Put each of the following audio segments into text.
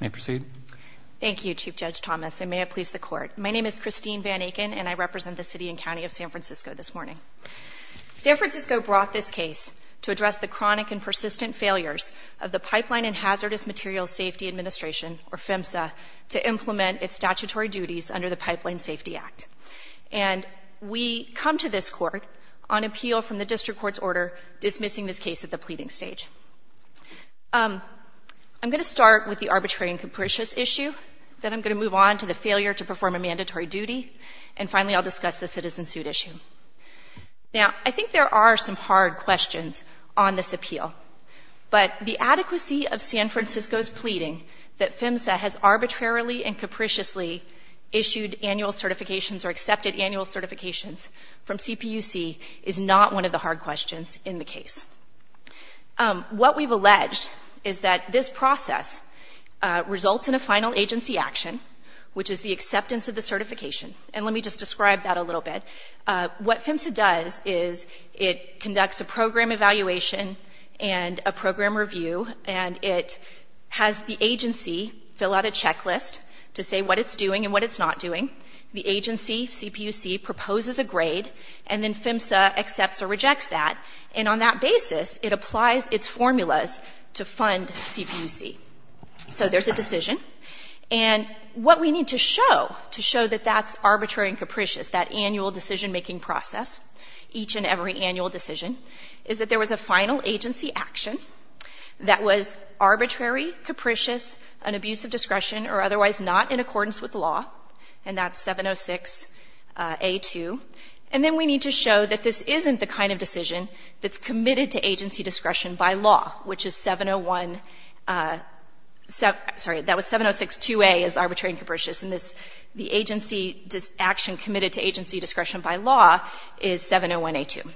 May I proceed? Thank you, Chief Judge Thomas. I may have pleased the court. My name is Christine Van Aken and I represent the City and County of San Francisco this morning. San Francisco brought this case to address the chronic and persistent failures of the Pipeline and Hazardous Materials Safety Administration, or PHMSA, to implement its statutory duties under the Pipeline Safety Act. And we come to this court on appeal from the District Court's order dismissing this case at the pleading stage. I'm going to start with the arbitrary and capricious issue, then I'm going to move on to the failure to perform a mandatory duty, and finally I'll discuss the citizen suit issue. Now I think there are some hard questions on this appeal, but the adequacy of San Francisco's pleading that PHMSA has arbitrarily and capriciously issued annual certifications or accepted annual certifications from CPUC is not one of the hard questions in the case. What we've alleged is that this process results in a final agency action, which is the acceptance of the certification. And let me just describe that a little bit. What PHMSA does is it conducts a program evaluation and a program review and it has the agency fill out a checklist to say what it's doing and what it's not doing. The agency, CPUC, proposes a grade and then PHMSA accepts or rejects that, and on that basis it applies its formulas to fund CPUC. So there's a decision. And what we need to show to show that that's arbitrary and capricious, that annual decision-making process, each and every annual decision, is that there was a final agency action that was arbitrary, capricious, an abuse of discretion or otherwise not in accordance with law, and that's 706A2. And then we need to show that this isn't the kind of decision that's committed to agency discretion by law, which is 701, sorry, that was 7062A is arbitrary and capricious, and this the agency action committed to agency discretion by law is 701A2.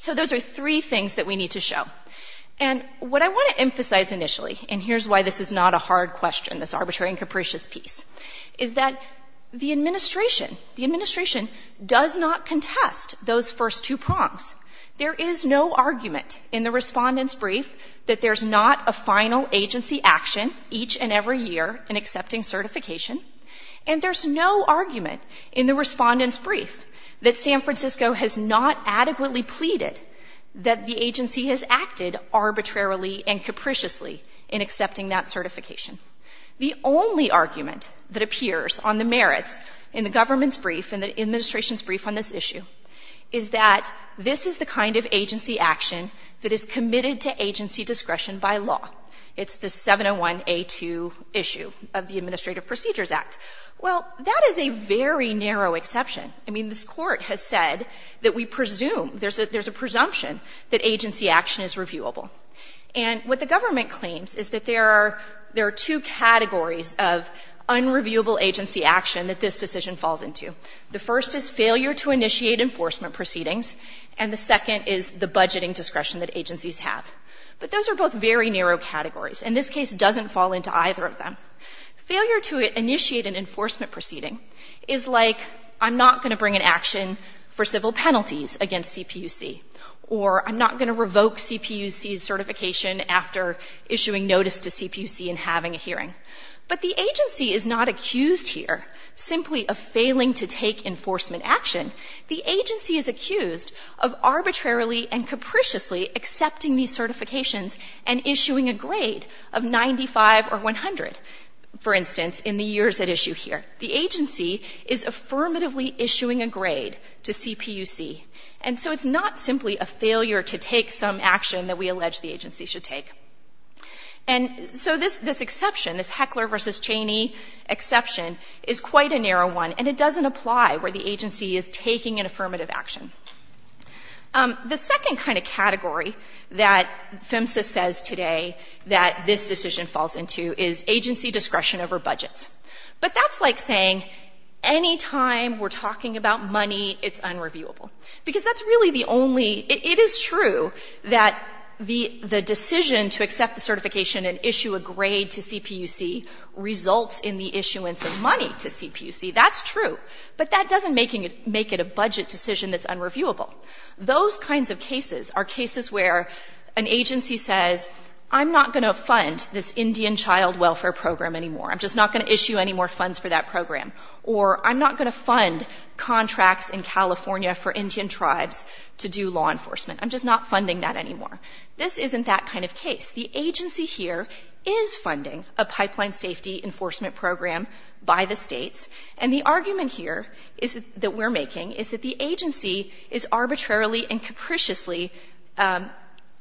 So those are three things that we need to show. And what I want to emphasize initially, and this is a capricious piece, is that the administration, the administration does not contest those first two prongs. There is no argument in the Respondent's Brief that there's not a final agency action each and every year in accepting certification, and there's no argument in the Respondent's Brief that San Francisco has not adequately pleaded that the agency has acted arbitrarily and capricious. The only argument that appears on the merits in the government's brief and the administration's brief on this issue is that this is the kind of agency action that is committed to agency discretion by law. It's the 701A2 issue of the Administrative Procedures Act. Well, that is a very narrow exception. I mean, this Court has said that we presume there's a presumption that agency action is reviewable. And what the government claims is that there are two categories of unreviewable agency action that this decision falls into. The first is failure to initiate enforcement proceedings, and the second is the budgeting discretion that agencies have. But those are both very narrow categories, and this case doesn't fall into either of them. Failure to initiate an enforcement proceeding is like I'm not going to bring an action for civil penalties against CPUC, or I'm not going to revoke CPUC's certification after issuing notice to CPUC and having a hearing. But the agency is not accused here simply of failing to take enforcement action. The agency is accused of arbitrarily and capriciously accepting these certifications and issuing a grade of 95 or 100, for instance, in the years at issue here. The agency is affirmatively issuing a grade to CPUC. And so it's not simply a failure to take some action that we allege the agency should take. And so this exception, this Heckler v. Cheney exception, is quite a narrow one, and it doesn't apply where the agency is taking an affirmative action. The second kind of category that PHMSA says today that this decision falls into is agency discretion over budgets. But that's like saying any time we're talking about money, it's unreviewable. Because that's really the only ‑‑ it is true that the decision to accept the certification and issue a grade to CPUC results in the issuance of money to CPUC. That's true. But that doesn't make it a budget decision that's unreviewable. Those kinds of cases are cases where an agency says, I'm not going to fund this Indian child welfare program anymore. I'm just not going to issue any more funds for that program. Or I'm not going to fund contracts in California for Indian tribes to do law enforcement. I'm just not funding that anymore. This isn't that kind of case. The agency here is funding a pipeline safety enforcement program by the states. And the argument here is that we're making is that the agency is arbitrarily and capriciously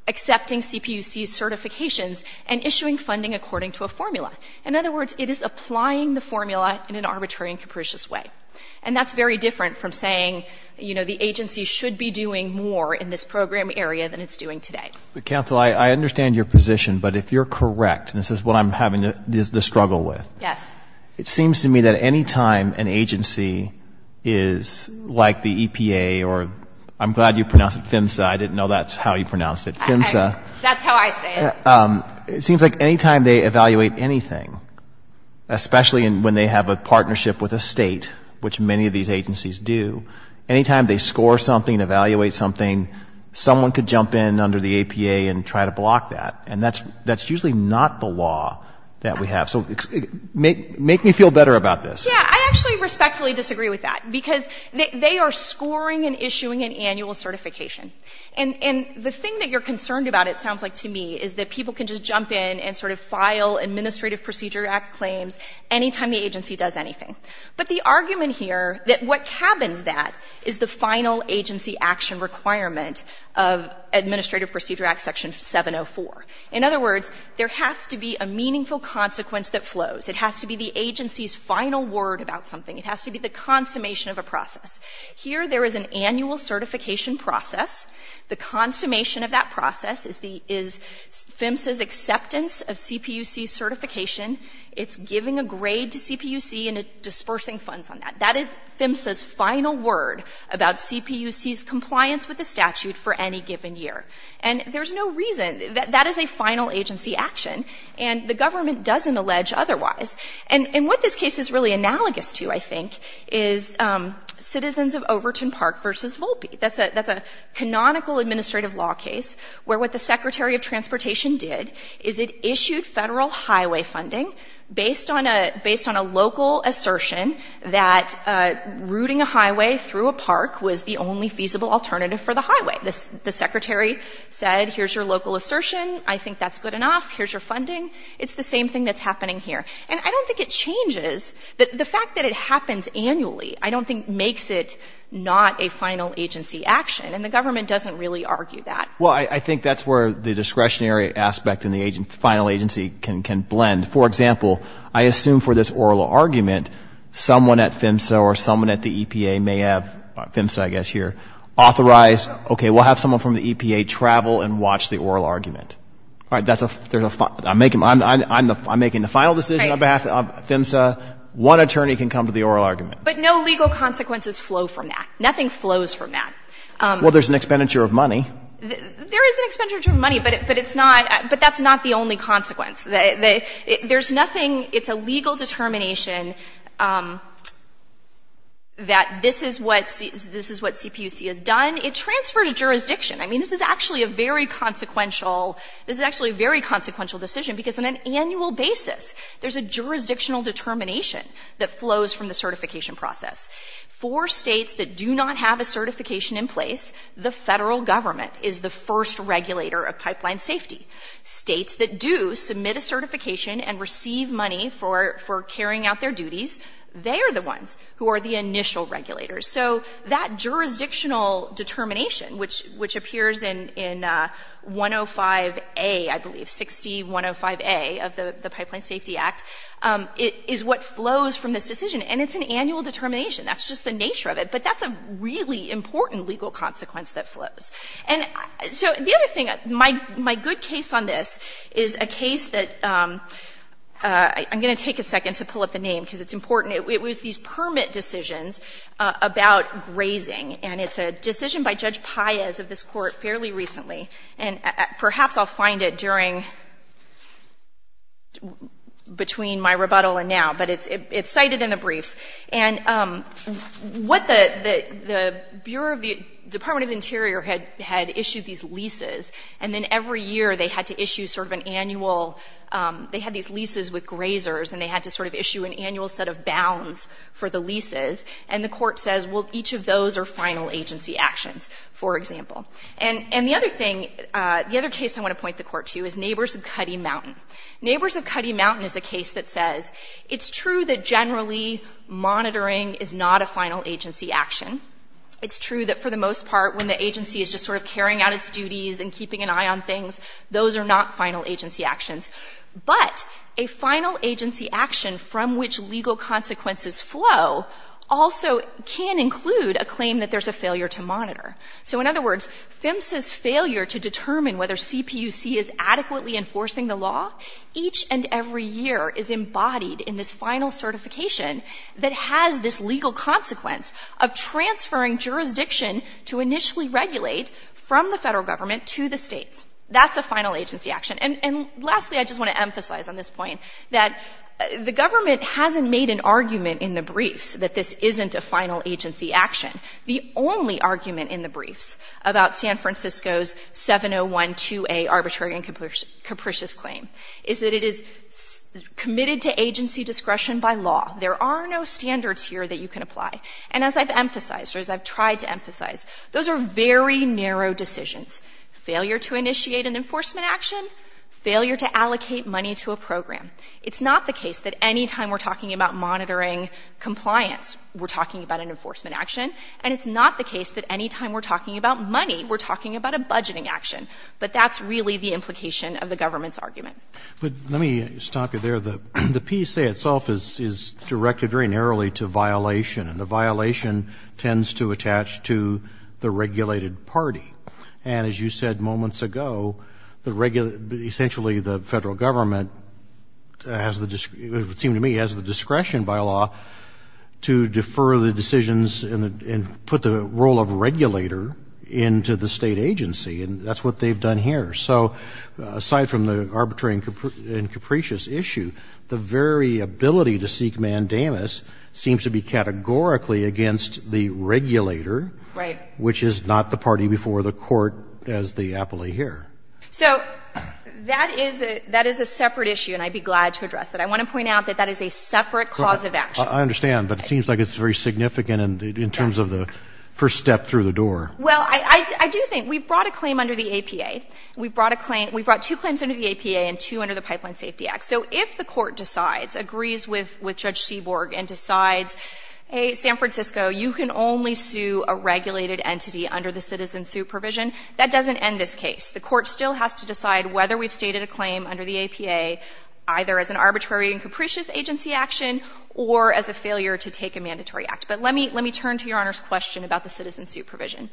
accepting CPUC certifications and issuing funding according to a formula. In other words, it is applying the formula in an arbitrary and capricious way. And that's very different from saying, you know, the agency should be doing more in this program area than it's doing today. But counsel, I understand your position. But if you're correct, and this is what I'm having the struggle with. Yes. It seems to me that any time an agency is like the EPA or I'm glad you pronounced it PHMSA. I didn't know that's how you pronounced it. PHMSA. That's how I say it. It seems like any time they evaluate anything, especially when they have a partnership with a state, which many of these agencies do, any time they score something, evaluate something, someone could jump in under the EPA and try to block that. And that's usually not the law that we have. So make me feel better about this. Yeah. I actually respectfully disagree with that. Because they are scoring and issuing an annual certification. And the thing that you're concerned about, it sounds like to me, is that people can just jump in and sort of file Administrative Procedure Act claims any time the agency does anything. But the argument here that what cabins that is the final agency action requirement of Administrative Procedure Act Section 704. In other words, there has to be a meaningful consequence that flows. It has to be the agency's final word about something. It has to be the consummation of a process. Here there is an annual certification process. The consummation of that process is the — is PHMSA's acceptance of CPUC certification. It's giving a grade to CPUC and dispersing funds on that. That is PHMSA's final word about CPUC's compliance with the statute for any given year. And there's no reason — that is a final agency action. And the government doesn't allege otherwise. And what this case is really analogous to, I think, is Citizens of Overton Park v. Volpe. That's a canonical administrative law case where what the Secretary of Transportation did is it issued federal highway funding based on a local assertion that routing a highway through a park was the only feasible alternative for the highway. The Secretary said, here's your local assertion. I think that's good enough. Here's your funding. It's the same thing that's happening here. And I don't think it changes. The fact that it happens annually, I don't think, makes it not a final agency action. And the government doesn't really argue that. Well, I think that's where the discretionary aspect and the final agency can blend. For example, I assume for this oral argument, someone at PHMSA or someone at the EPA may have — PHMSA, I guess, here — authorized, okay, we'll have someone from the EPA travel and watch the oral argument. All right, that's a — there's a — I'm making the final decision on behalf of PHMSA. One attorney can come to the oral argument. But no legal consequences flow from that. Nothing flows from that. Well, there's an expenditure of money. There is an expenditure of money, but it's not — but that's not the only consequence. There's nothing — it's a legal determination that this is what CPUC has done. It transfers jurisdiction. I mean, this is actually a very consequential — this is actually a very consequential decision, because on an annual basis, there's a jurisdictional determination that flows from the certification process. For states that do not have a certification in place, the Federal Government is the first regulator of pipeline safety. States that do submit a certification and receive money for — for carrying out their duties, they are the ones who are the initial regulators. So that jurisdictional determination, which appears in 105A, I believe, 60105A of the Pipeline Safety Act, is what flows from this decision. And it's an annual determination. That's just the nature of it. But that's a really important legal consequence that flows. And so the other thing — my good case on this is a case that — I'm going to take a moment to talk about grazing. And it's a decision by Judge Paez of this Court fairly recently, and perhaps I'll find it during — between my rebuttal and now. But it's cited in the briefs. And what the Bureau of the — Department of the Interior had issued these leases, and then every year, they had to issue sort of an annual — they had these leases with grazers, and they had to sort of issue an annual set of bounds for the leases. And the Court says, well, each of those are final agency actions, for example. And the other thing — the other case I want to point the Court to is Neighbors of Cuddy Mountain. Neighbors of Cuddy Mountain is a case that says it's true that generally monitoring is not a final agency action. It's true that for the most part, when the agency is just sort of carrying out its duties and keeping an eye on things, those are not final agency actions. But a final agency action from which legal consequences flow also can include a claim that there's a failure to monitor. So, in other words, PHMSA's failure to determine whether CPUC is adequately enforcing the law each and every year is embodied in this final certification that has this legal consequence of transferring jurisdiction to initially regulate from the federal government to the states. That's a final agency action. And lastly, I just want to emphasize on this point that the government hasn't made an argument in the briefs that this isn't a final agency action. The only argument in the briefs about San Francisco's 7012A arbitrary and capricious claim is that it is committed to agency discretion by law. There are no standards here that you can apply. And as I've emphasized, or as I've tried to emphasize, those are very narrow decisions. Failure to initiate an enforcement action, failure to allocate money to a program. It's not the case that any time we're talking about monitoring compliance, we're talking about an enforcement action. And it's not the case that any time we're talking about money, we're talking about a budgeting action. But that's really the implication of the government's argument. But let me stop you there. The PSA itself is directed very narrowly to violation, and the violation tends to attach to the regulated party. And as you said moments ago, essentially the federal government, it would seem to me, has the discretion by law to defer the decisions and put the role of regulator into the state agency. And that's what they've done here. So aside from the arbitrary and capricious issue, the very ability to seek mandamus seems to be categorically against the regulator, which is not the party before the court as the appellee here. So that is a separate issue, and I'd be glad to address it. I want to point out that that is a separate cause of action. I understand, but it seems like it's very significant in terms of the first step through the door. Well, I do think we brought a claim under the APA. We brought two claims under the APA and two under the Pipeline Safety Act. So if the court decides, agrees with Judge Seaborg and decides, hey, San Francisco, you can only sue a regulated entity under the citizen suit provision, that doesn't end this case. The court still has to decide whether we've stated a claim under the APA, either as an arbitrary and capricious agency action or as a failure to take a mandatory act. But let me turn to Your Honor's question about the citizen suit provision.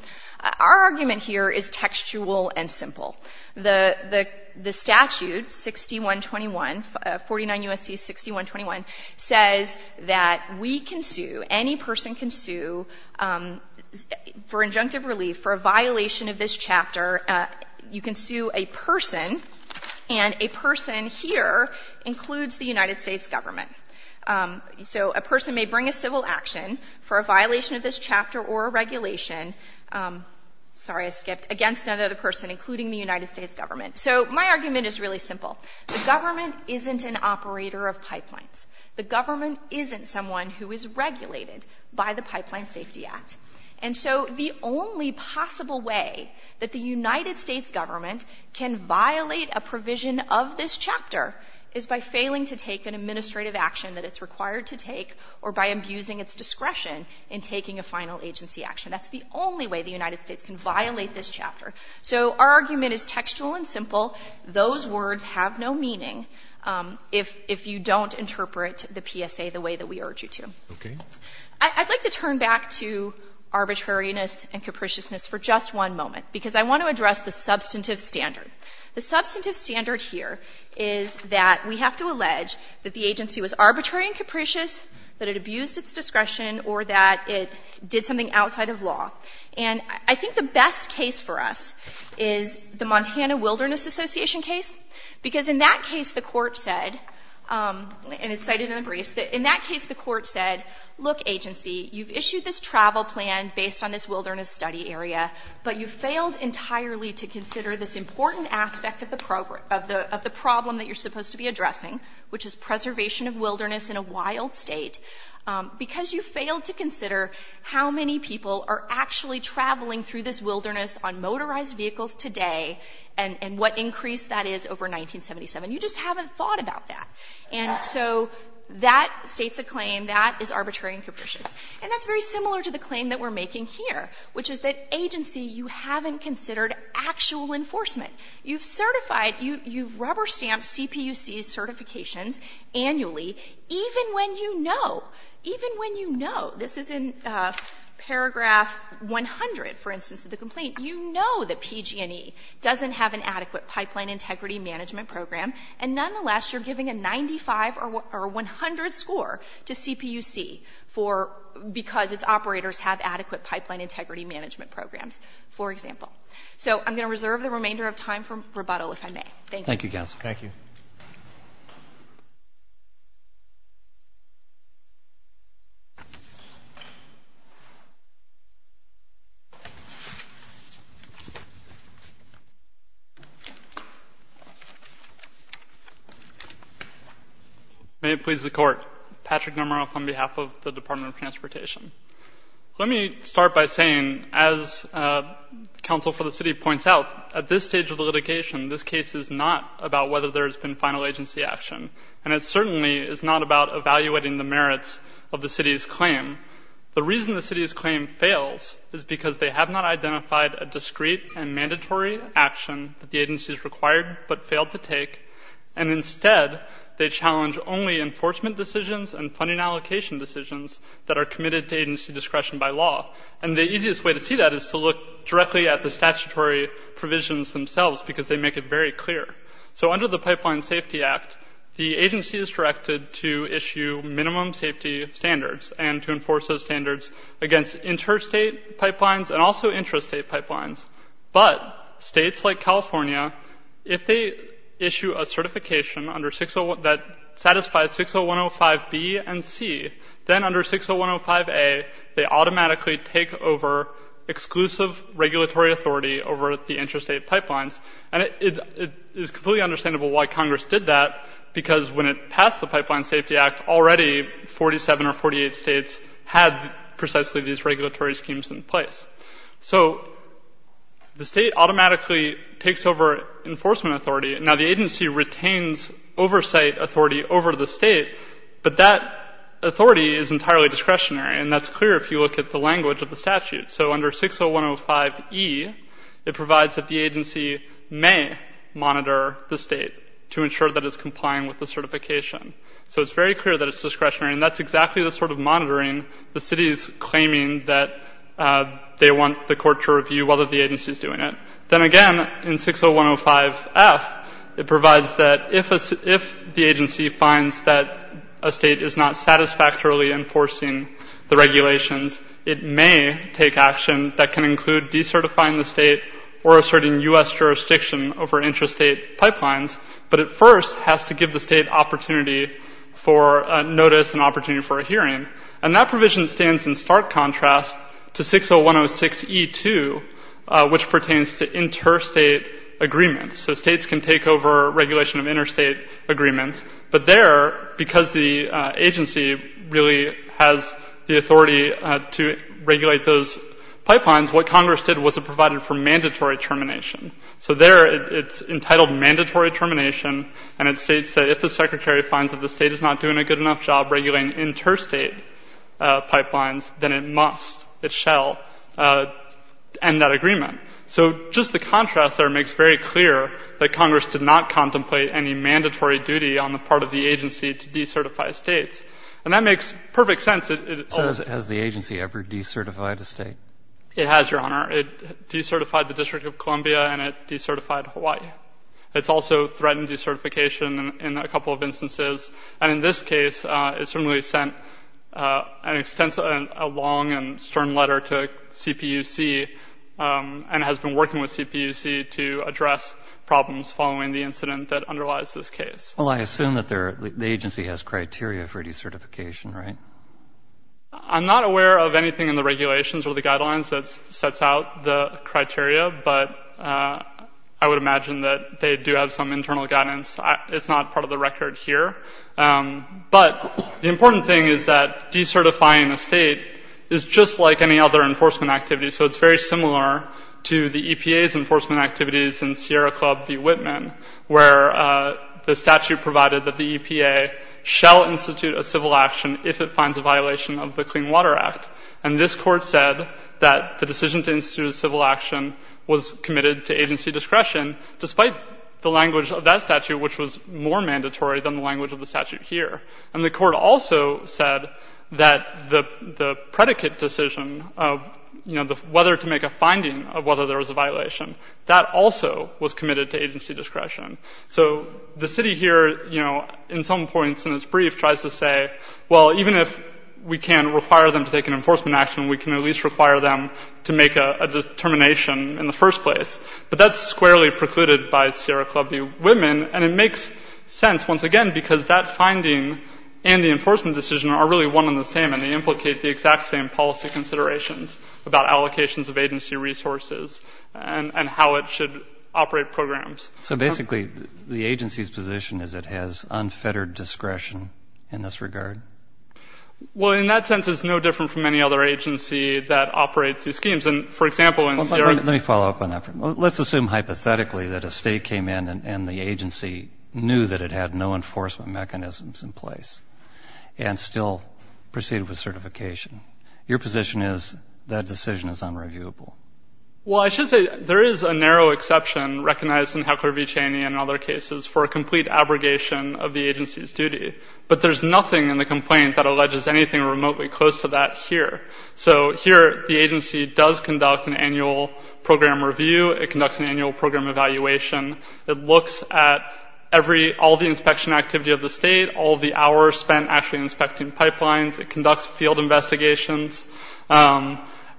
Our argument here is textual and simple. The statute, 6121, 49 U.S.C. 6121, says that the state agency that we can sue, any person can sue for injunctive relief for a violation of this chapter, you can sue a person, and a person here includes the United States government. So a person may bring a civil action for a violation of this chapter or a regulation, sorry, I skipped, against another person, including the United States government. So my argument is really simple. The government isn't an operator of pipelines. The government isn't someone who is regulated by the Pipeline Safety Act. And so the only possible way that the United States government can violate a provision of this chapter is by failing to take an administrative action that it's required to take or by abusing its discretion in taking a final agency action. That's the only way the United States can violate this chapter. So our argument is textual and simple. Those words have no meaning. If you don't interpret the PSA the way that we urge you to. I'd like to turn back to arbitrariness and capriciousness for just one moment because I want to address the substantive standard. The substantive standard here is that we have to allege that the agency was arbitrary and capricious, that it abused its discretion or that it did something outside of law. And I think the best case for us is the Montana briefs. In that case, the court said, look, agency, you've issued this travel plan based on this wilderness study area, but you failed entirely to consider this important aspect of the problem that you're supposed to be addressing, which is preservation of wilderness in a wild state, because you failed to consider how many people are actually traveling through this wilderness on motorized vehicles today and what increase that is over 1977. You just So that states a claim that is arbitrary and capricious. And that's very similar to the claim that we're making here, which is that agency, you haven't considered actual enforcement. You've certified, you've rubber-stamped CPUC's certifications annually, even when you know, even when you know, this is in paragraph 100, for instance, of the complaint, you know that PG&E doesn't have an adequate pipeline integrity management program, and nonetheless, you're giving a 95 or 100 score to CPUC for, because its operators have adequate pipeline integrity management programs, for example. So I'm going to reserve the remainder of time for rebuttal, if I may. Thank you. May it please the Court. Patrick Nomeroff on behalf of the Department of Transportation. Let me start by saying, as counsel for the city points out, at this stage of the litigation, this case is not about whether there has been final agency action. And it certainly is not about evaluating the merits of the city's claim. The reason the city's claim fails is because they have not identified a discrete and mandatory action that the agency has required but failed to take. And instead, they challenge only enforcement decisions and funding allocation decisions that are committed to agency discretion by law. And the easiest way to see that is to look directly at the statutory provisions themselves, because they make it very clear. So under the Pipeline Safety Act, the agency is directed to issue minimum safety standards and to enforce those standards against interstate pipelines and also intrastate pipelines. But states like California, if they issue a certification that satisfies 60105B and C, then under 60105A, they automatically take over exclusive regulatory authority over the intrastate pipelines. And it is completely understandable why Congress did that, because when it passed the Pipeline Safety Act, already 47 or 48 states had precisely these regulatory schemes in place. So the state automatically takes over enforcement authority. Now, the agency retains oversight authority over the state, but that authority is entirely discretionary. And that's clear if you look at the language of the statute. So under 60105E, it provides that the agency may monitor the state to ensure that it's complying with the certification. So it's very clear that it's discretionary. And that's exactly the sort of monitoring the city is doing it. Then again, in 60105F, it provides that if the agency finds that a state is not satisfactorily enforcing the regulations, it may take action that can include decertifying the state or asserting U.S. jurisdiction over intrastate pipelines, but it first has to give the state opportunity for notice and opportunity for a hearing. And that provision stands in stark contrast to 60106E2, which pertains to interstate agreements. So states can take over regulation of interstate agreements, but there, because the agency really has the authority to regulate those pipelines, what Congress did was it provided for mandatory termination. So there, it's entitled mandatory termination, and it states that if the secretary finds that the state is not doing a good enough job regulating interstate pipelines, then it must, it shall, end that agreement. So just the contrast there makes very clear that Congress did not contemplate any mandatory duty on the part of the agency to decertify states. And that makes perfect sense. It also — MR. MILLER So has the agency ever decertified a state? MR. GARRETT It has, Your Honor. It decertified the District of Columbia, and it decertified Hawaii. It's also threatened decertification in a couple of instances. And in this case, it certainly sent an extensive, a long and stern letter to CPUC and has been working with CPUC to address problems following the incident that underlies this case. MR. MILLER Well, I assume that the agency has criteria for decertification, right? MR. GARRETT I'm not aware of anything in the regulations or the guidelines that sets out the criteria, but I would imagine that they do have some internal guidance. It's not part of the record here. But the important thing is that decertifying a state is just like any other enforcement activity. So it's very similar to the EPA's enforcement activities in Sierra Club v. Whitman, where the statute provided that the EPA shall institute a civil action if it finds a violation of the Clean Water Act. And this Court said that the decision to institute a civil action was committed to agency discretion, despite the language of that statute, which was more mandatory than the language of the statute here. And the Court also said that the predicate decision of, you know, whether to make a finding of whether there was a violation, that also was committed to agency discretion. So the City here, you know, in some points in its brief tries to say, well, even if we can require them to take an enforcement action, we can at least require them to make a determination in the first place. But that's squarely precluded by Sierra Club v. Whitman. And it makes sense, once again, because that finding and the enforcement decision are really one and the same, and they implicate the exact same policy considerations about allocations of agency resources and how it should operate programs. DR. EISENACH So basically, the agency's position is it has unfettered discretion in this regard? MR. GARRETT Well, in that sense, it's no different from any other agency that operates these schemes. And, for example, in Sierra Club v. Whitman DR. EISENACH Let me follow up on that for a minute. Let's assume hypothetically that a state came in and the agency knew that it had no enforcement mechanisms in place and still proceeded with certification. Your position is that decision is unreviewable? MR. GARRETT Well, I should say there is a narrow exception recognized in Heckler v. Cheney and other cases for a complete abrogation of the agency's duty. But there's nothing in the complaint that alleges anything remotely close to that here. So here, the agency does conduct an annual program review. It conducts an annual program evaluation. It looks at all the inspection activity of the state, all the hours spent actually inspecting pipelines. It conducts field investigations.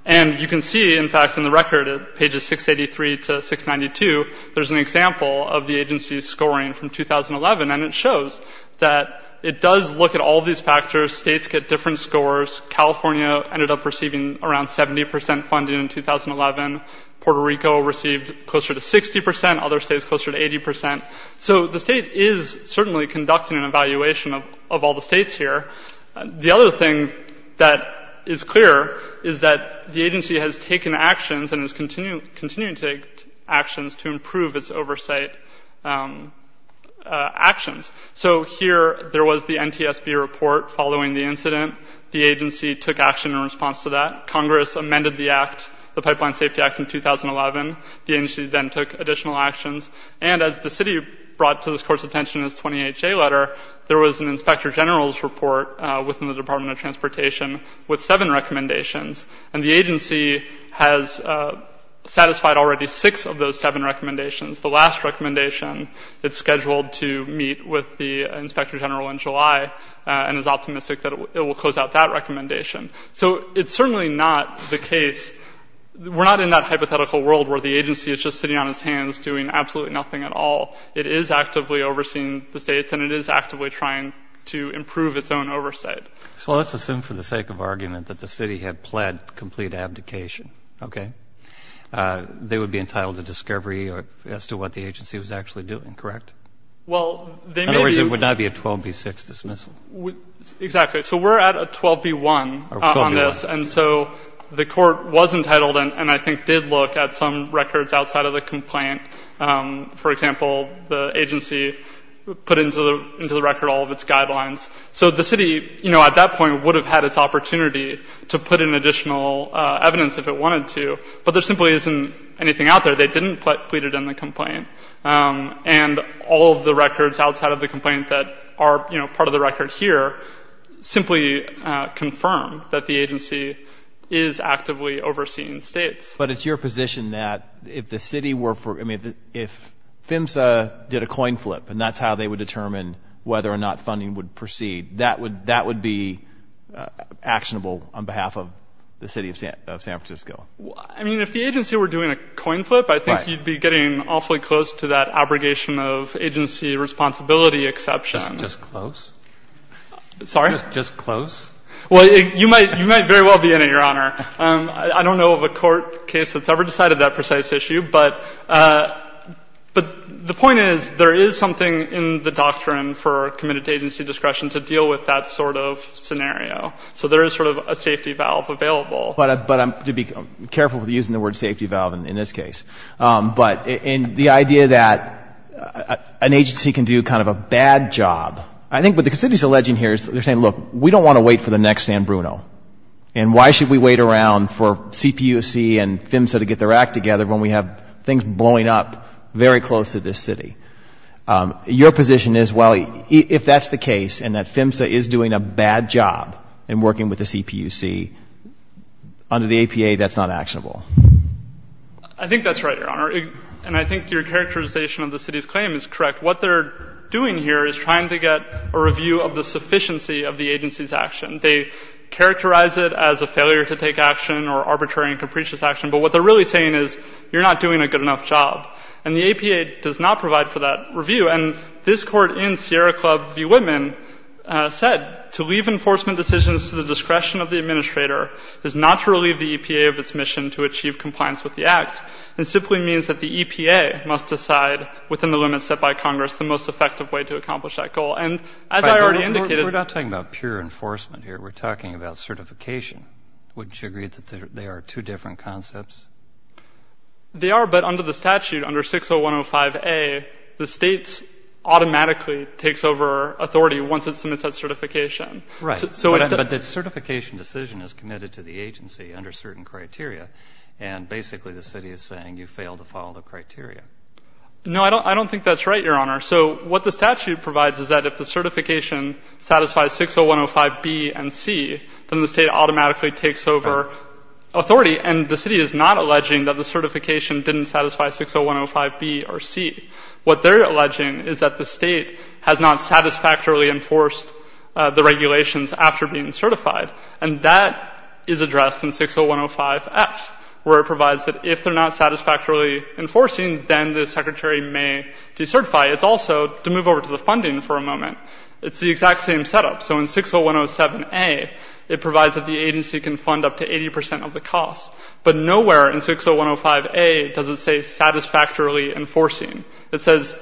And you can see, in fact, in the record at pages 683 to 692, there's an example of the agency's scoring from 2011. And it shows that it does look at all of these factors. States get different scores. California ended up receiving around 70% funding in 2011. Puerto Rico received closer to 60%. Other states closer to 80%. So the state is certainly conducting an evaluation of all the states here. The other thing that is clear is that the agency has taken actions and is continuing to take actions to improve its oversight actions. So here, there was the NTSB report following the incident. The agency took action in response to that. Congress amended the act, the Pipeline Safety Act, in 2011. The agency then took additional actions. And as the city brought to this court's attention its 20HA letter, there was an inspector general's report within the Department of Transportation with seven recommendations. And the agency has satisfied already six of those seven recommendations. The last recommendation, it's scheduled to meet with the inspector general in July and is optimistic that it will close out that recommendation. So it's certainly not the case. We're not in that hypothetical world where the agency is just sitting on its hands doing absolutely nothing at all. It is actively overseeing the states and it is actively trying to improve its own oversight. So let's assume for the sake of argument that the city had pled complete abdication, okay? They would be entitled to discovery as to what the agency was actually doing, correct? Well, they may be In other words, it would not be a 12B6 dismissal. Exactly. So we're at a 12B1 on this. And so the court was entitled and I think did look at some records outside of the complaint. For example, the agency put into the record all of its guidelines. So the city, you know, at that point would have had its opportunity to put in additional evidence if it wanted to. But there simply isn't anything out there. They didn't put pleaded in the complaint. And all of the records outside of the complaint that are, you know, part of the record here simply confirm that the agency is actively overseeing states. But it's your position that if the city were for, I mean, if PHMSA did a coin flip and that's how they would determine whether or not funding would proceed, that would be actionable on behalf of the city of San Francisco? I mean, if the agency were doing a coin flip, I think you'd be getting awfully close to that abrogation of agency responsibility exception. Just close? Sorry? Just close? Well, you might very well be in it, Your Honor. I don't know of a court case that's ever decided that precise issue. But the point is there is something in the doctrine for committed agency discretion to deal with that sort of scenario. So there is sort of a safety valve available. But I'm careful with using the word safety valve in this case. But the idea that an agency can do kind of a bad job, I think what the city is alleging here is they're saying, look, we don't want to wait for the next San Bruno. And why should we wait around for CPUC and come back together when we have things blowing up very close to this city? Your position is, well, if that's the case and that PHMSA is doing a bad job in working with the CPUC, under the APA, that's not actionable. I think that's right, Your Honor. And I think your characterization of the city's claim is correct. What they're doing here is trying to get a review of the sufficiency of the agency's action. They characterize it as a failure to take action or arbitrary and capricious action. But what they're really saying is, you're not doing a good enough job. And the APA does not provide for that review. And this Court in Sierra Club v. Whitman said, to leave enforcement decisions to the discretion of the administrator is not to relieve the EPA of its mission to achieve compliance with the Act. It simply means that the EPA must decide, within the limits set by Congress, the most effective way to accomplish that goal. And as I already indicated — But we're not talking about pure enforcement here. We're talking about certification. Wouldn't you agree that they are two different concepts? They are. But under the statute, under 60105A, the state automatically takes over authority once it submits that certification. Right. But the certification decision is committed to the agency under certain criteria. And basically the city is saying, you failed to follow the criteria. No, I don't think that's right, Your Honor. So what the statute provides is that if the agency automatically takes over authority, and the city is not alleging that the certification didn't satisfy 60105B or C, what they're alleging is that the state has not satisfactorily enforced the regulations after being certified. And that is addressed in 60105F, where it provides that if they're not satisfactorily enforcing, then the secretary may decertify. It's also — to move over to the funding for a moment — it's the exact same setup. So in 60107A, it provides that the agency can fund up to 80 percent of the costs. But nowhere in 60105A does it say satisfactorily enforcing. It says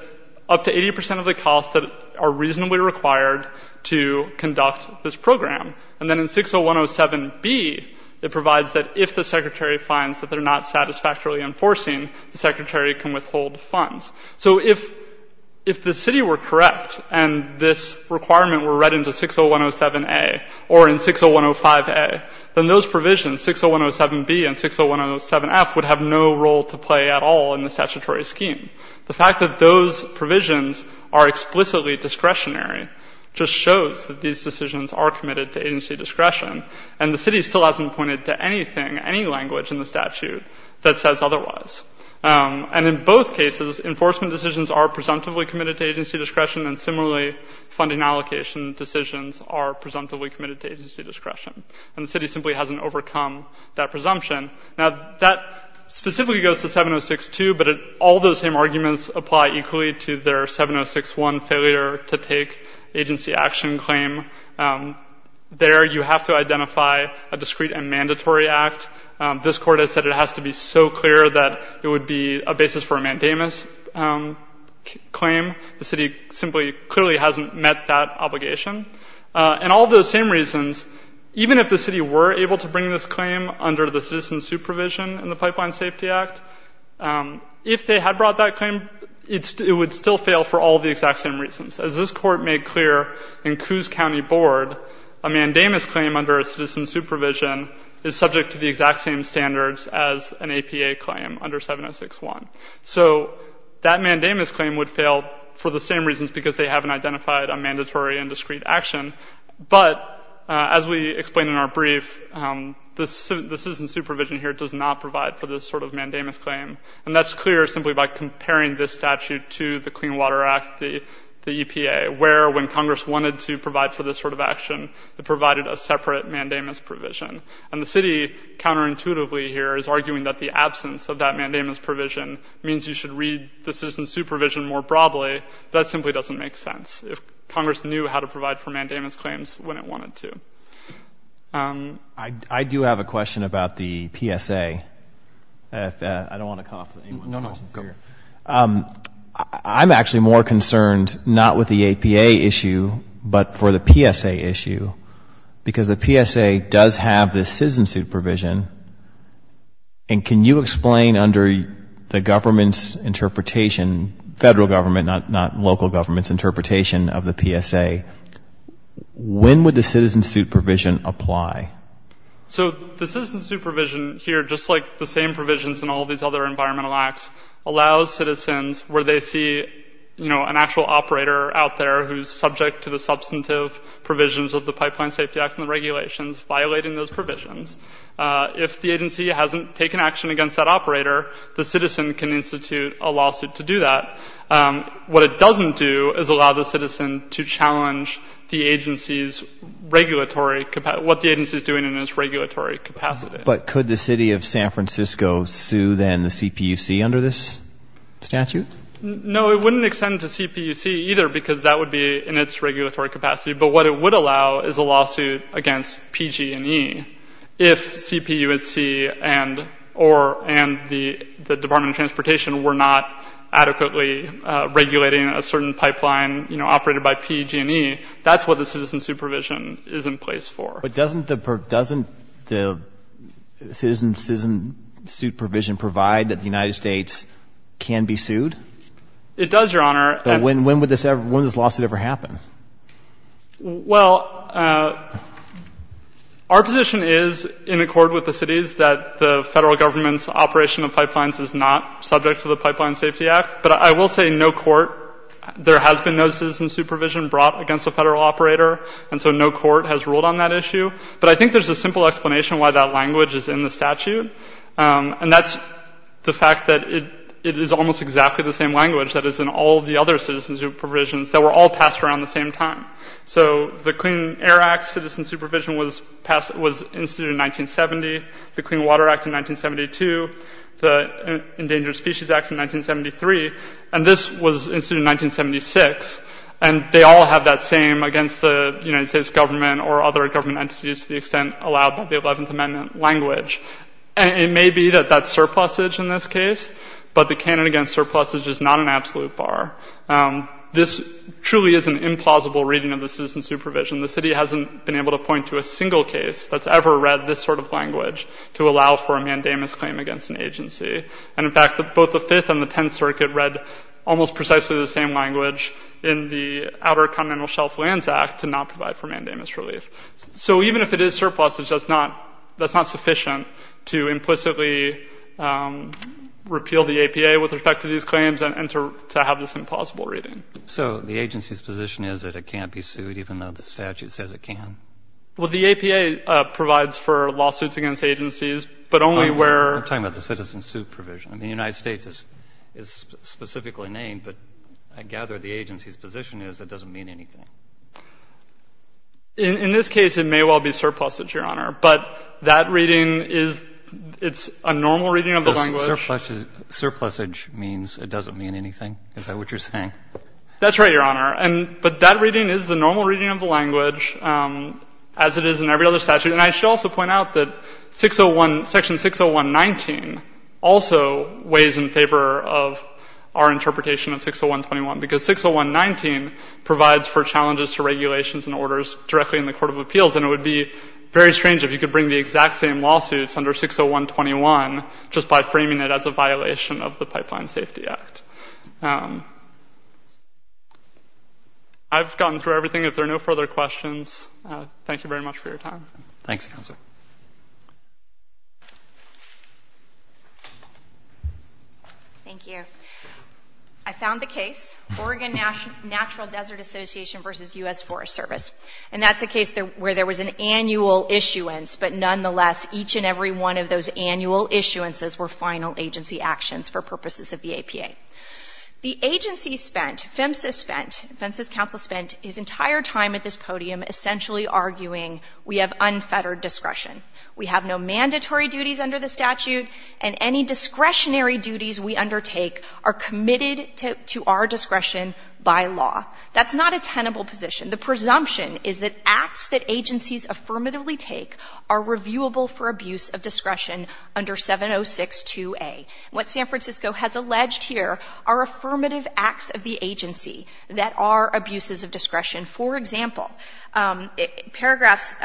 up to 80 percent of the costs that are reasonably required to conduct this program. And then in 60107B, it provides that if the secretary finds that they're not satisfactorily enforcing, the secretary can withhold funds. So if the city were correct and this requirement were read into 60107A or in 60105A, then those provisions — 60107B and 60107F — would have no role to play at all in the statutory scheme. The fact that those provisions are explicitly discretionary just shows that these decisions are committed to agency discretion. And the city still hasn't pointed to anything, any language in the statute that says otherwise. And in both cases, enforcement decisions are presumptively committed to agency discretion. And similarly, funding allocation decisions are presumptively committed to agency discretion. And the city simply hasn't overcome that presumption. Now that specifically goes to 7062, but all those same arguments apply equally to their 7061 failure to take agency action claim. There, you have to identify a discrete and clear reason. This Court has said it has to be so clear that it would be a basis for a mandamus claim. The city simply clearly hasn't met that obligation. And all those same reasons, even if the city were able to bring this claim under the citizen supervision in the Pipeline Safety Act, if they had brought that claim, it would still fail for all the exact same reasons. As this Court made clear in Coos County Board, a mandamus claim under a citizen supervision is subject to the exact same standards as an APA claim under 7061. So that mandamus claim would fail for the same reasons because they haven't identified a mandatory and discrete action. But as we explained in our brief, the citizen supervision here does not provide for this sort of mandamus claim. And that's clear simply by comparing this statute to the Clean Water Act, the EPA, where when Congress wanted to provide for this sort of action, it provided a separate mandamus provision. And the city, counterintuitively here, is arguing that the absence of that mandamus provision means you should read the citizen supervision more broadly. That simply doesn't make sense. If Congress knew how to provide for mandamus claims when it wanted to. I do have a question about the PSA. I don't want to cough at anyone's questions here. I'm actually more concerned not with the APA issue, but for the PSA issue. Because the PSA does have this citizen supervision. And can you explain under the government's interpretation, federal government, not local government's interpretation of the PSA, when would the citizen supervision apply? So the citizen supervision here, just like the same provisions in all these other environmental acts, allows citizens where they see, you know, an actual operator out there who's subject to the substantive provisions of the Pipeline Safety Act and the regulations, violating those provisions. If the agency hasn't taken action against that operator, the citizen can institute a lawsuit to do that. What it doesn't do is allow the citizen to challenge the agency's regulatory, what the agency's doing in its regulatory capacity. But could the city of San Francisco sue then the CPUC under this statute? No, it wouldn't extend to CPUC either, because that would be in its regulatory capacity. But what it would allow is a lawsuit against PG&E. If CPUC and the Department of Transportation were not adequately regulating a certain pipeline, you know, operated by PG&E, that's what the citizen supervision is in place for. But doesn't the citizen supervision provide that the United States can be sued? It does, Your Honor. But when would this lawsuit ever happen? Well, our position is, in accord with the city's, that the federal government's operation of pipelines is not subject to the Pipeline Safety Act. But I will say no court, there has been no citizen supervision brought against a federal operator, and so no court has ruled on that issue. But I think there's a simple explanation why that language is in the statute, and that's the fact that it is almost exactly the same language that is in all the other citizen supervisions that were all passed around the same time. So the Clean Air Act's citizen supervision was passed, was instituted in 1970, the Clean Water Act in 1972, the Endangered Species Act in 1973, and this was instituted in 1976. And they all have that same, against the United States government or other government entities to the extent allowed by the 11th Amendment, language. And it may be that that's surplusage in this case, but the canon against surplusage is not an absolute bar. This truly is an implausible reading of the citizen supervision. The city hasn't been able to point to a single case that's ever read this sort of language to allow for a mandamus claim against an agency. And in fact, both the Fifth and the Tenth Circuit read almost precisely the same language in the Outer Continental Shelf Lands Act to not provide for mandamus relief. So even if it is surplusage, that's not sufficient to implicitly repeal the APA with respect to these claims and to have this implausible reading. So the agency's position is that it can't be sued, even though the statute says it can? Well, the APA provides for lawsuits against agencies, but only where— We're not talking about the citizen supervision. I mean, the United States is specifically named, but I gather the agency's position is it doesn't mean anything. In this case, it may well be surplusage, Your Honor. But that reading is — it's a normal reading of the language. Surplusage means it doesn't mean anything? Is that what you're saying? That's right, Your Honor. And — but that reading is the normal reading of the language as it is in every other statute. And I should also point out that Section 60119 also weighs in favor of our interpretation of 60121, because 60119 provides for challenges to regulations and orders directly in the Court of Appeals, and it would be very strange if you could bring the exact same lawsuits under 60121 just by framing it as a violation of the Pipeline Safety Act. I've gotten through everything. If there are no further questions, thank you very much for your time. Thanks, Counselor. Thank you. I found the case, Oregon Natural Desert Association v. U.S. Forest Service. And that's a case where there was an annual issuance, but nonetheless, each and every one of those annual issuances were final agency actions for purposes of the APA. The agency spent, PHMSA spent, PHMSA's counsel spent his entire time at this podium essentially arguing we have unfettered discretion. We have no mandatory duties under the statute, and any discretionary duties we undertake are committed to our discretion by law. That's not a tenable position. The presumption is that acts that agencies affirmatively take are reviewable for abuse of discretion under 7062A. What San Francisco has alleged here are affirmative acts of the agency that are abuses of discretion. For example, paragraphs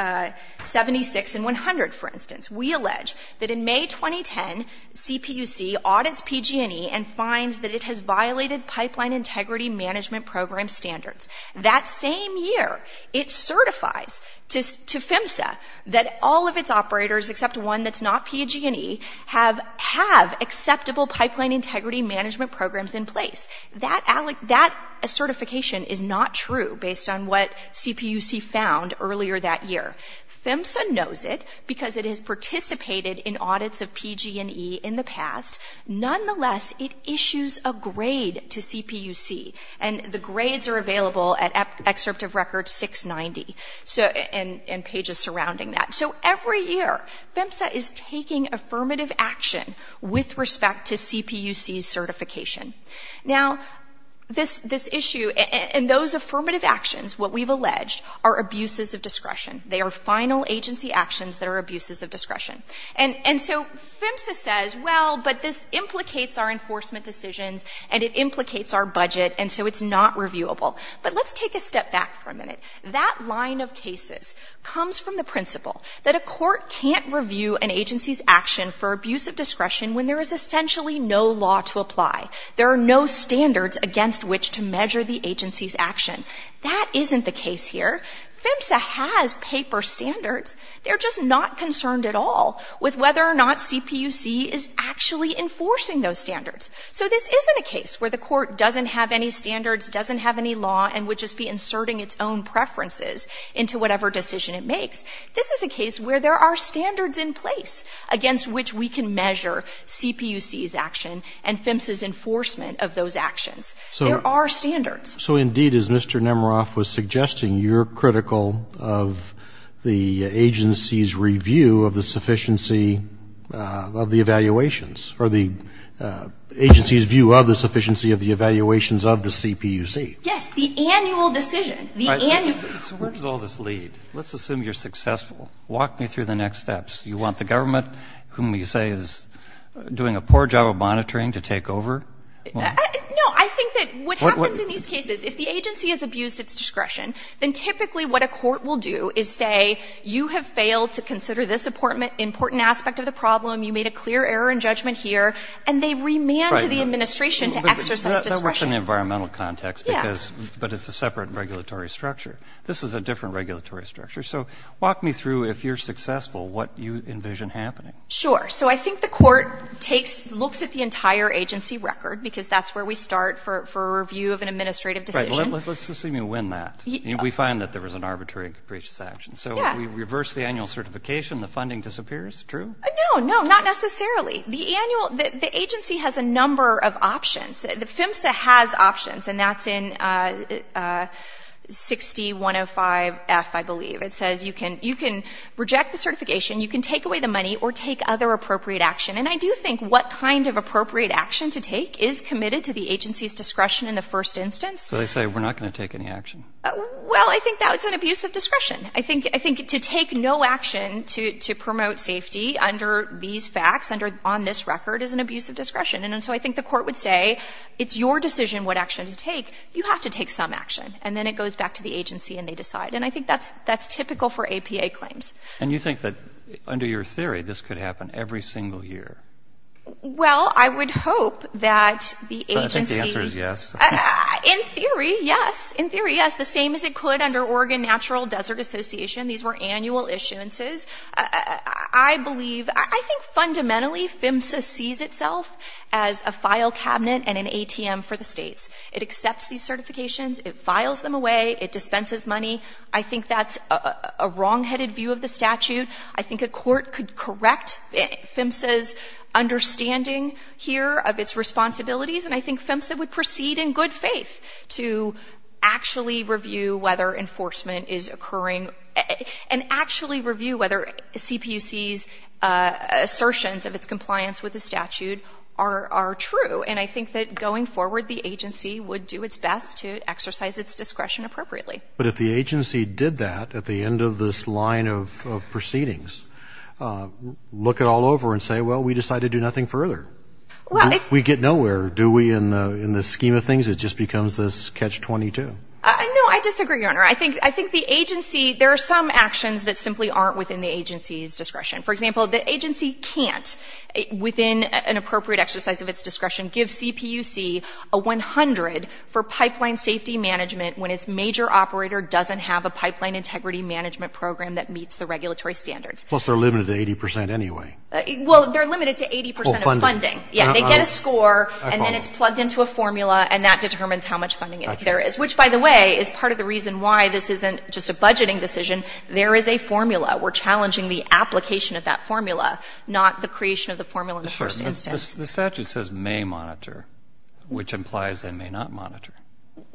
76 and 100, for instance, we allege that in May 2010, CPUC audits PG&E and finds that it has violated Pipeline Integrity Management Program standards. That same year, it certifies to PHMSA that all of its operators, except one that's not PG&E, have acceptable Pipeline Integrity Management Programs in place. That certification is not true based on what CPUC found earlier that year. PHMSA knows it because it has participated in audits of PG&E in the past. Nonetheless, it issues a grade to CPUC, and the grades are available at excerpt of record 690 and pages surrounding that. So every year, PHMSA is taking affirmative action with respect to CPUC's certification. Now, this issue and those affirmative actions, what we've alleged, are abuses of discretion. They are final agency actions that are abuses of discretion. And so PHMSA says, well, but this implicates our enforcement decisions and it implicates our budget, and so it's not reviewable. But let's take a step back for a minute. That line of cases comes from the principle that a court can't review an agency's action for abuse of discretion when there is essentially no law to apply. There are no standards against which to measure the agency's action. That isn't the case here. PHMSA has paper standards. They're just not concerned at all with whether or not CPUC is actually enforcing those standards. So this isn't a case where the court doesn't have any standards, doesn't have any law, and would just be inserting its own preferences into whatever decision it makes. This is a case where there are standards in place against which we can measure CPUC's action and PHMSA's enforcement of those actions. There are standards. So indeed, as Mr. Nemeroff was suggesting, you're critical of the agency's review of the sufficiency of the evaluations, or the agency's view of the sufficiency of the evaluations of the CPUC. Yes. The annual decision. The annual decision. All right. So where does all this lead? Let's assume you're successful. Walk me through the next steps. You want the government, whom you say is doing a poor job of monitoring, to take over? No. I think that what happens in these cases, if the agency has abused its discretion, then typically what a court will do is say, you have failed to consider this important aspect of the problem, you made a clear error in judgment here, and they remand to the administration to exercise discretion. Right. But that works in the environmental context because, but it's a separate regulatory structure. Yes. This is a different regulatory structure. So walk me through, if you're successful, what you envision happening. Sure. So I think the court takes, looks at the entire agency record, because that's where we start for a review of an administrative decision. Right. Let's assume you win that. We find that there was an arbitrary and capricious action. So we reverse the annual certification, the funding disappears. True? No, no. Not necessarily. The agency has a number of options. The PHMSA has options, and that's in 60-105-F, I believe. It says you can reject the certification, you can take away the money, or take other appropriate action. And I do think what kind of appropriate action to take is committed to the agency's discretion in the first instance. So they say, we're not going to take any action? Well, I think that's an abuse of discretion. I think to take no action to promote safety under these facts, on this record, is an abuse of discretion. And so I think the court would say, it's your decision what action to take. You have to take some action. And then it goes back to the agency and they decide. And I think that's typical for APA claims. And you think that, under your theory, this could happen every single year? Well, I would hope that the agency... I think the answer is yes. In theory, yes. In theory, yes. The same as it could under Oregon Natural Desert Association. These were annual issuances. I believe, I think fundamentally, PHMSA sees itself as a file cabinet and an ATM for the states. It accepts these certifications, it files them away, it dispenses money. I think that's a wrong-headed view of the statute. I think a court could correct PHMSA's understanding here of its responsibilities, and I think in good faith, to actually review whether enforcement is occurring, and actually review whether CPUC's assertions of its compliance with the statute are true. And I think that, going forward, the agency would do its best to exercise its discretion appropriately. But if the agency did that at the end of this line of proceedings, look it all over and say, well, we decide to do nothing further, we get nowhere, do we, in the scheme of things, it just becomes this catch-22. No, I disagree, Your Honor. I think the agency, there are some actions that simply aren't within the agency's discretion. For example, the agency can't, within an appropriate exercise of its discretion, give CPUC a 100 for pipeline safety management when its major operator doesn't have a pipeline integrity management program that meets the regulatory standards. Plus, they're limited to 80 percent anyway. Well, they're limited to 80 percent of funding. Oh, funding. Yeah, they get a score, and then it's plugged into a formula, and that determines how much funding there is. Which, by the way, is part of the reason why this isn't just a budgeting decision. There is a formula. We're challenging the application of that formula, not the creation of the formula in the first instance. The statute says may monitor, which implies they may not monitor.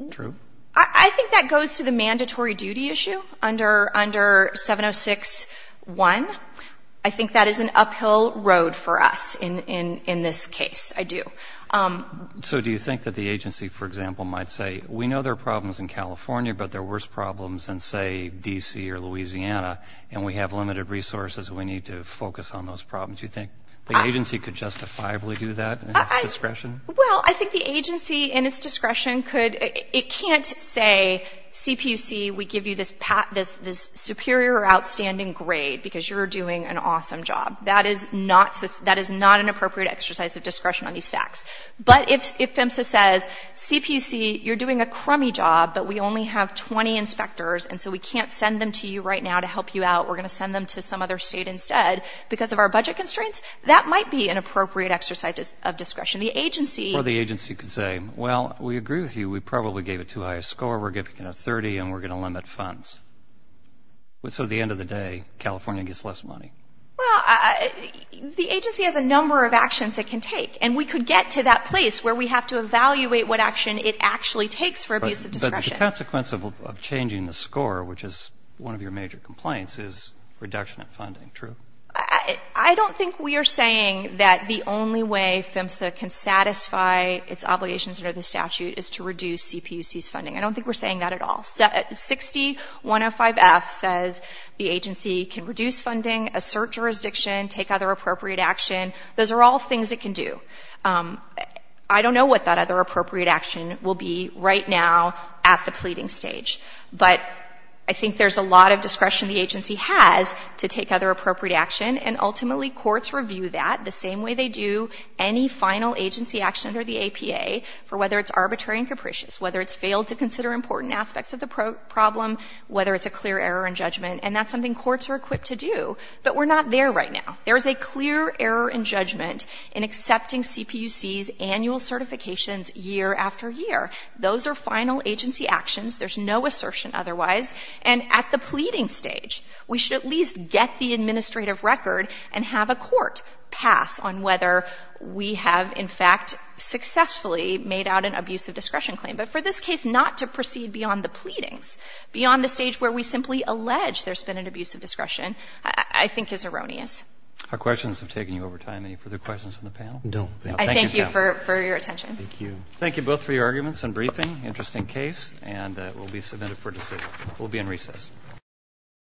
True? I think that goes to the mandatory duty issue under 706.1. I think that is an uphill road for us in this case. I do. So do you think that the agency, for example, might say, we know there are problems in California, but there are worse problems in, say, D.C. or Louisiana, and we have limited resources. We need to focus on those problems. Do you think the agency could justifiably do that in its discretion? Well, I think the agency, in its discretion, could. It can't say, CPUC, we give you this superior or outstanding grade because you're doing an awesome job. That is not an appropriate exercise of discretion on these facts. But if PHMSA says, CPC, you're doing a crummy job, but we only have 20 inspectors, and so we can't send them to you right now to help you out. We're going to send them to some other state instead because of our budget constraints, that might be an appropriate exercise of discretion. The agency Or the agency could say, well, we agree with you. We probably gave it too high a score. We're giving it a 30, and we're going to limit funds. So at the end of the day, California gets less money. Well, the agency has a number of actions it can take, and we could get to that place where we have to evaluate what action it actually takes for abuse of discretion. But the consequence of changing the score, which is one of your major complaints, is reduction of funding, true? I don't think we are saying that the only way PHMSA can satisfy its obligations under the statute is to reduce CPC's funding. I don't think we're saying that at all. 60-105-F says the agency can reduce funding, assert jurisdiction, take other appropriate action. Those are all things it can do. I don't know what that other appropriate action will be right now at the pleading stage. But I think there's a lot of discretion the agency has to take other appropriate action, and ultimately courts review that the same way they do any final agency action under the APA for whether it's arbitrary and capricious, whether it's failed to consider important aspects of the problem, whether it's a clear error in judgment. And that's something courts are equipped to do. But we're not there right now. There's a clear error in judgment in accepting CPUC's annual certifications year after year. Those are final agency actions. There's no assertion otherwise. And at the pleading stage, we should at least get the administrative record and have a court pass on whether we have in fact successfully made out an abuse of discretion claim. But for this case not to proceed beyond the pleadings, beyond the stage where we simply allege there's been an abuse of discretion, I think is erroneous. Our questions have taken you over time. Any further questions from the panel? No. Thank you, counsel. I thank you for your attention. Thank you. Thank you both for your arguments and briefing. Interesting case. And it will be submitted for decision. We'll be in recess.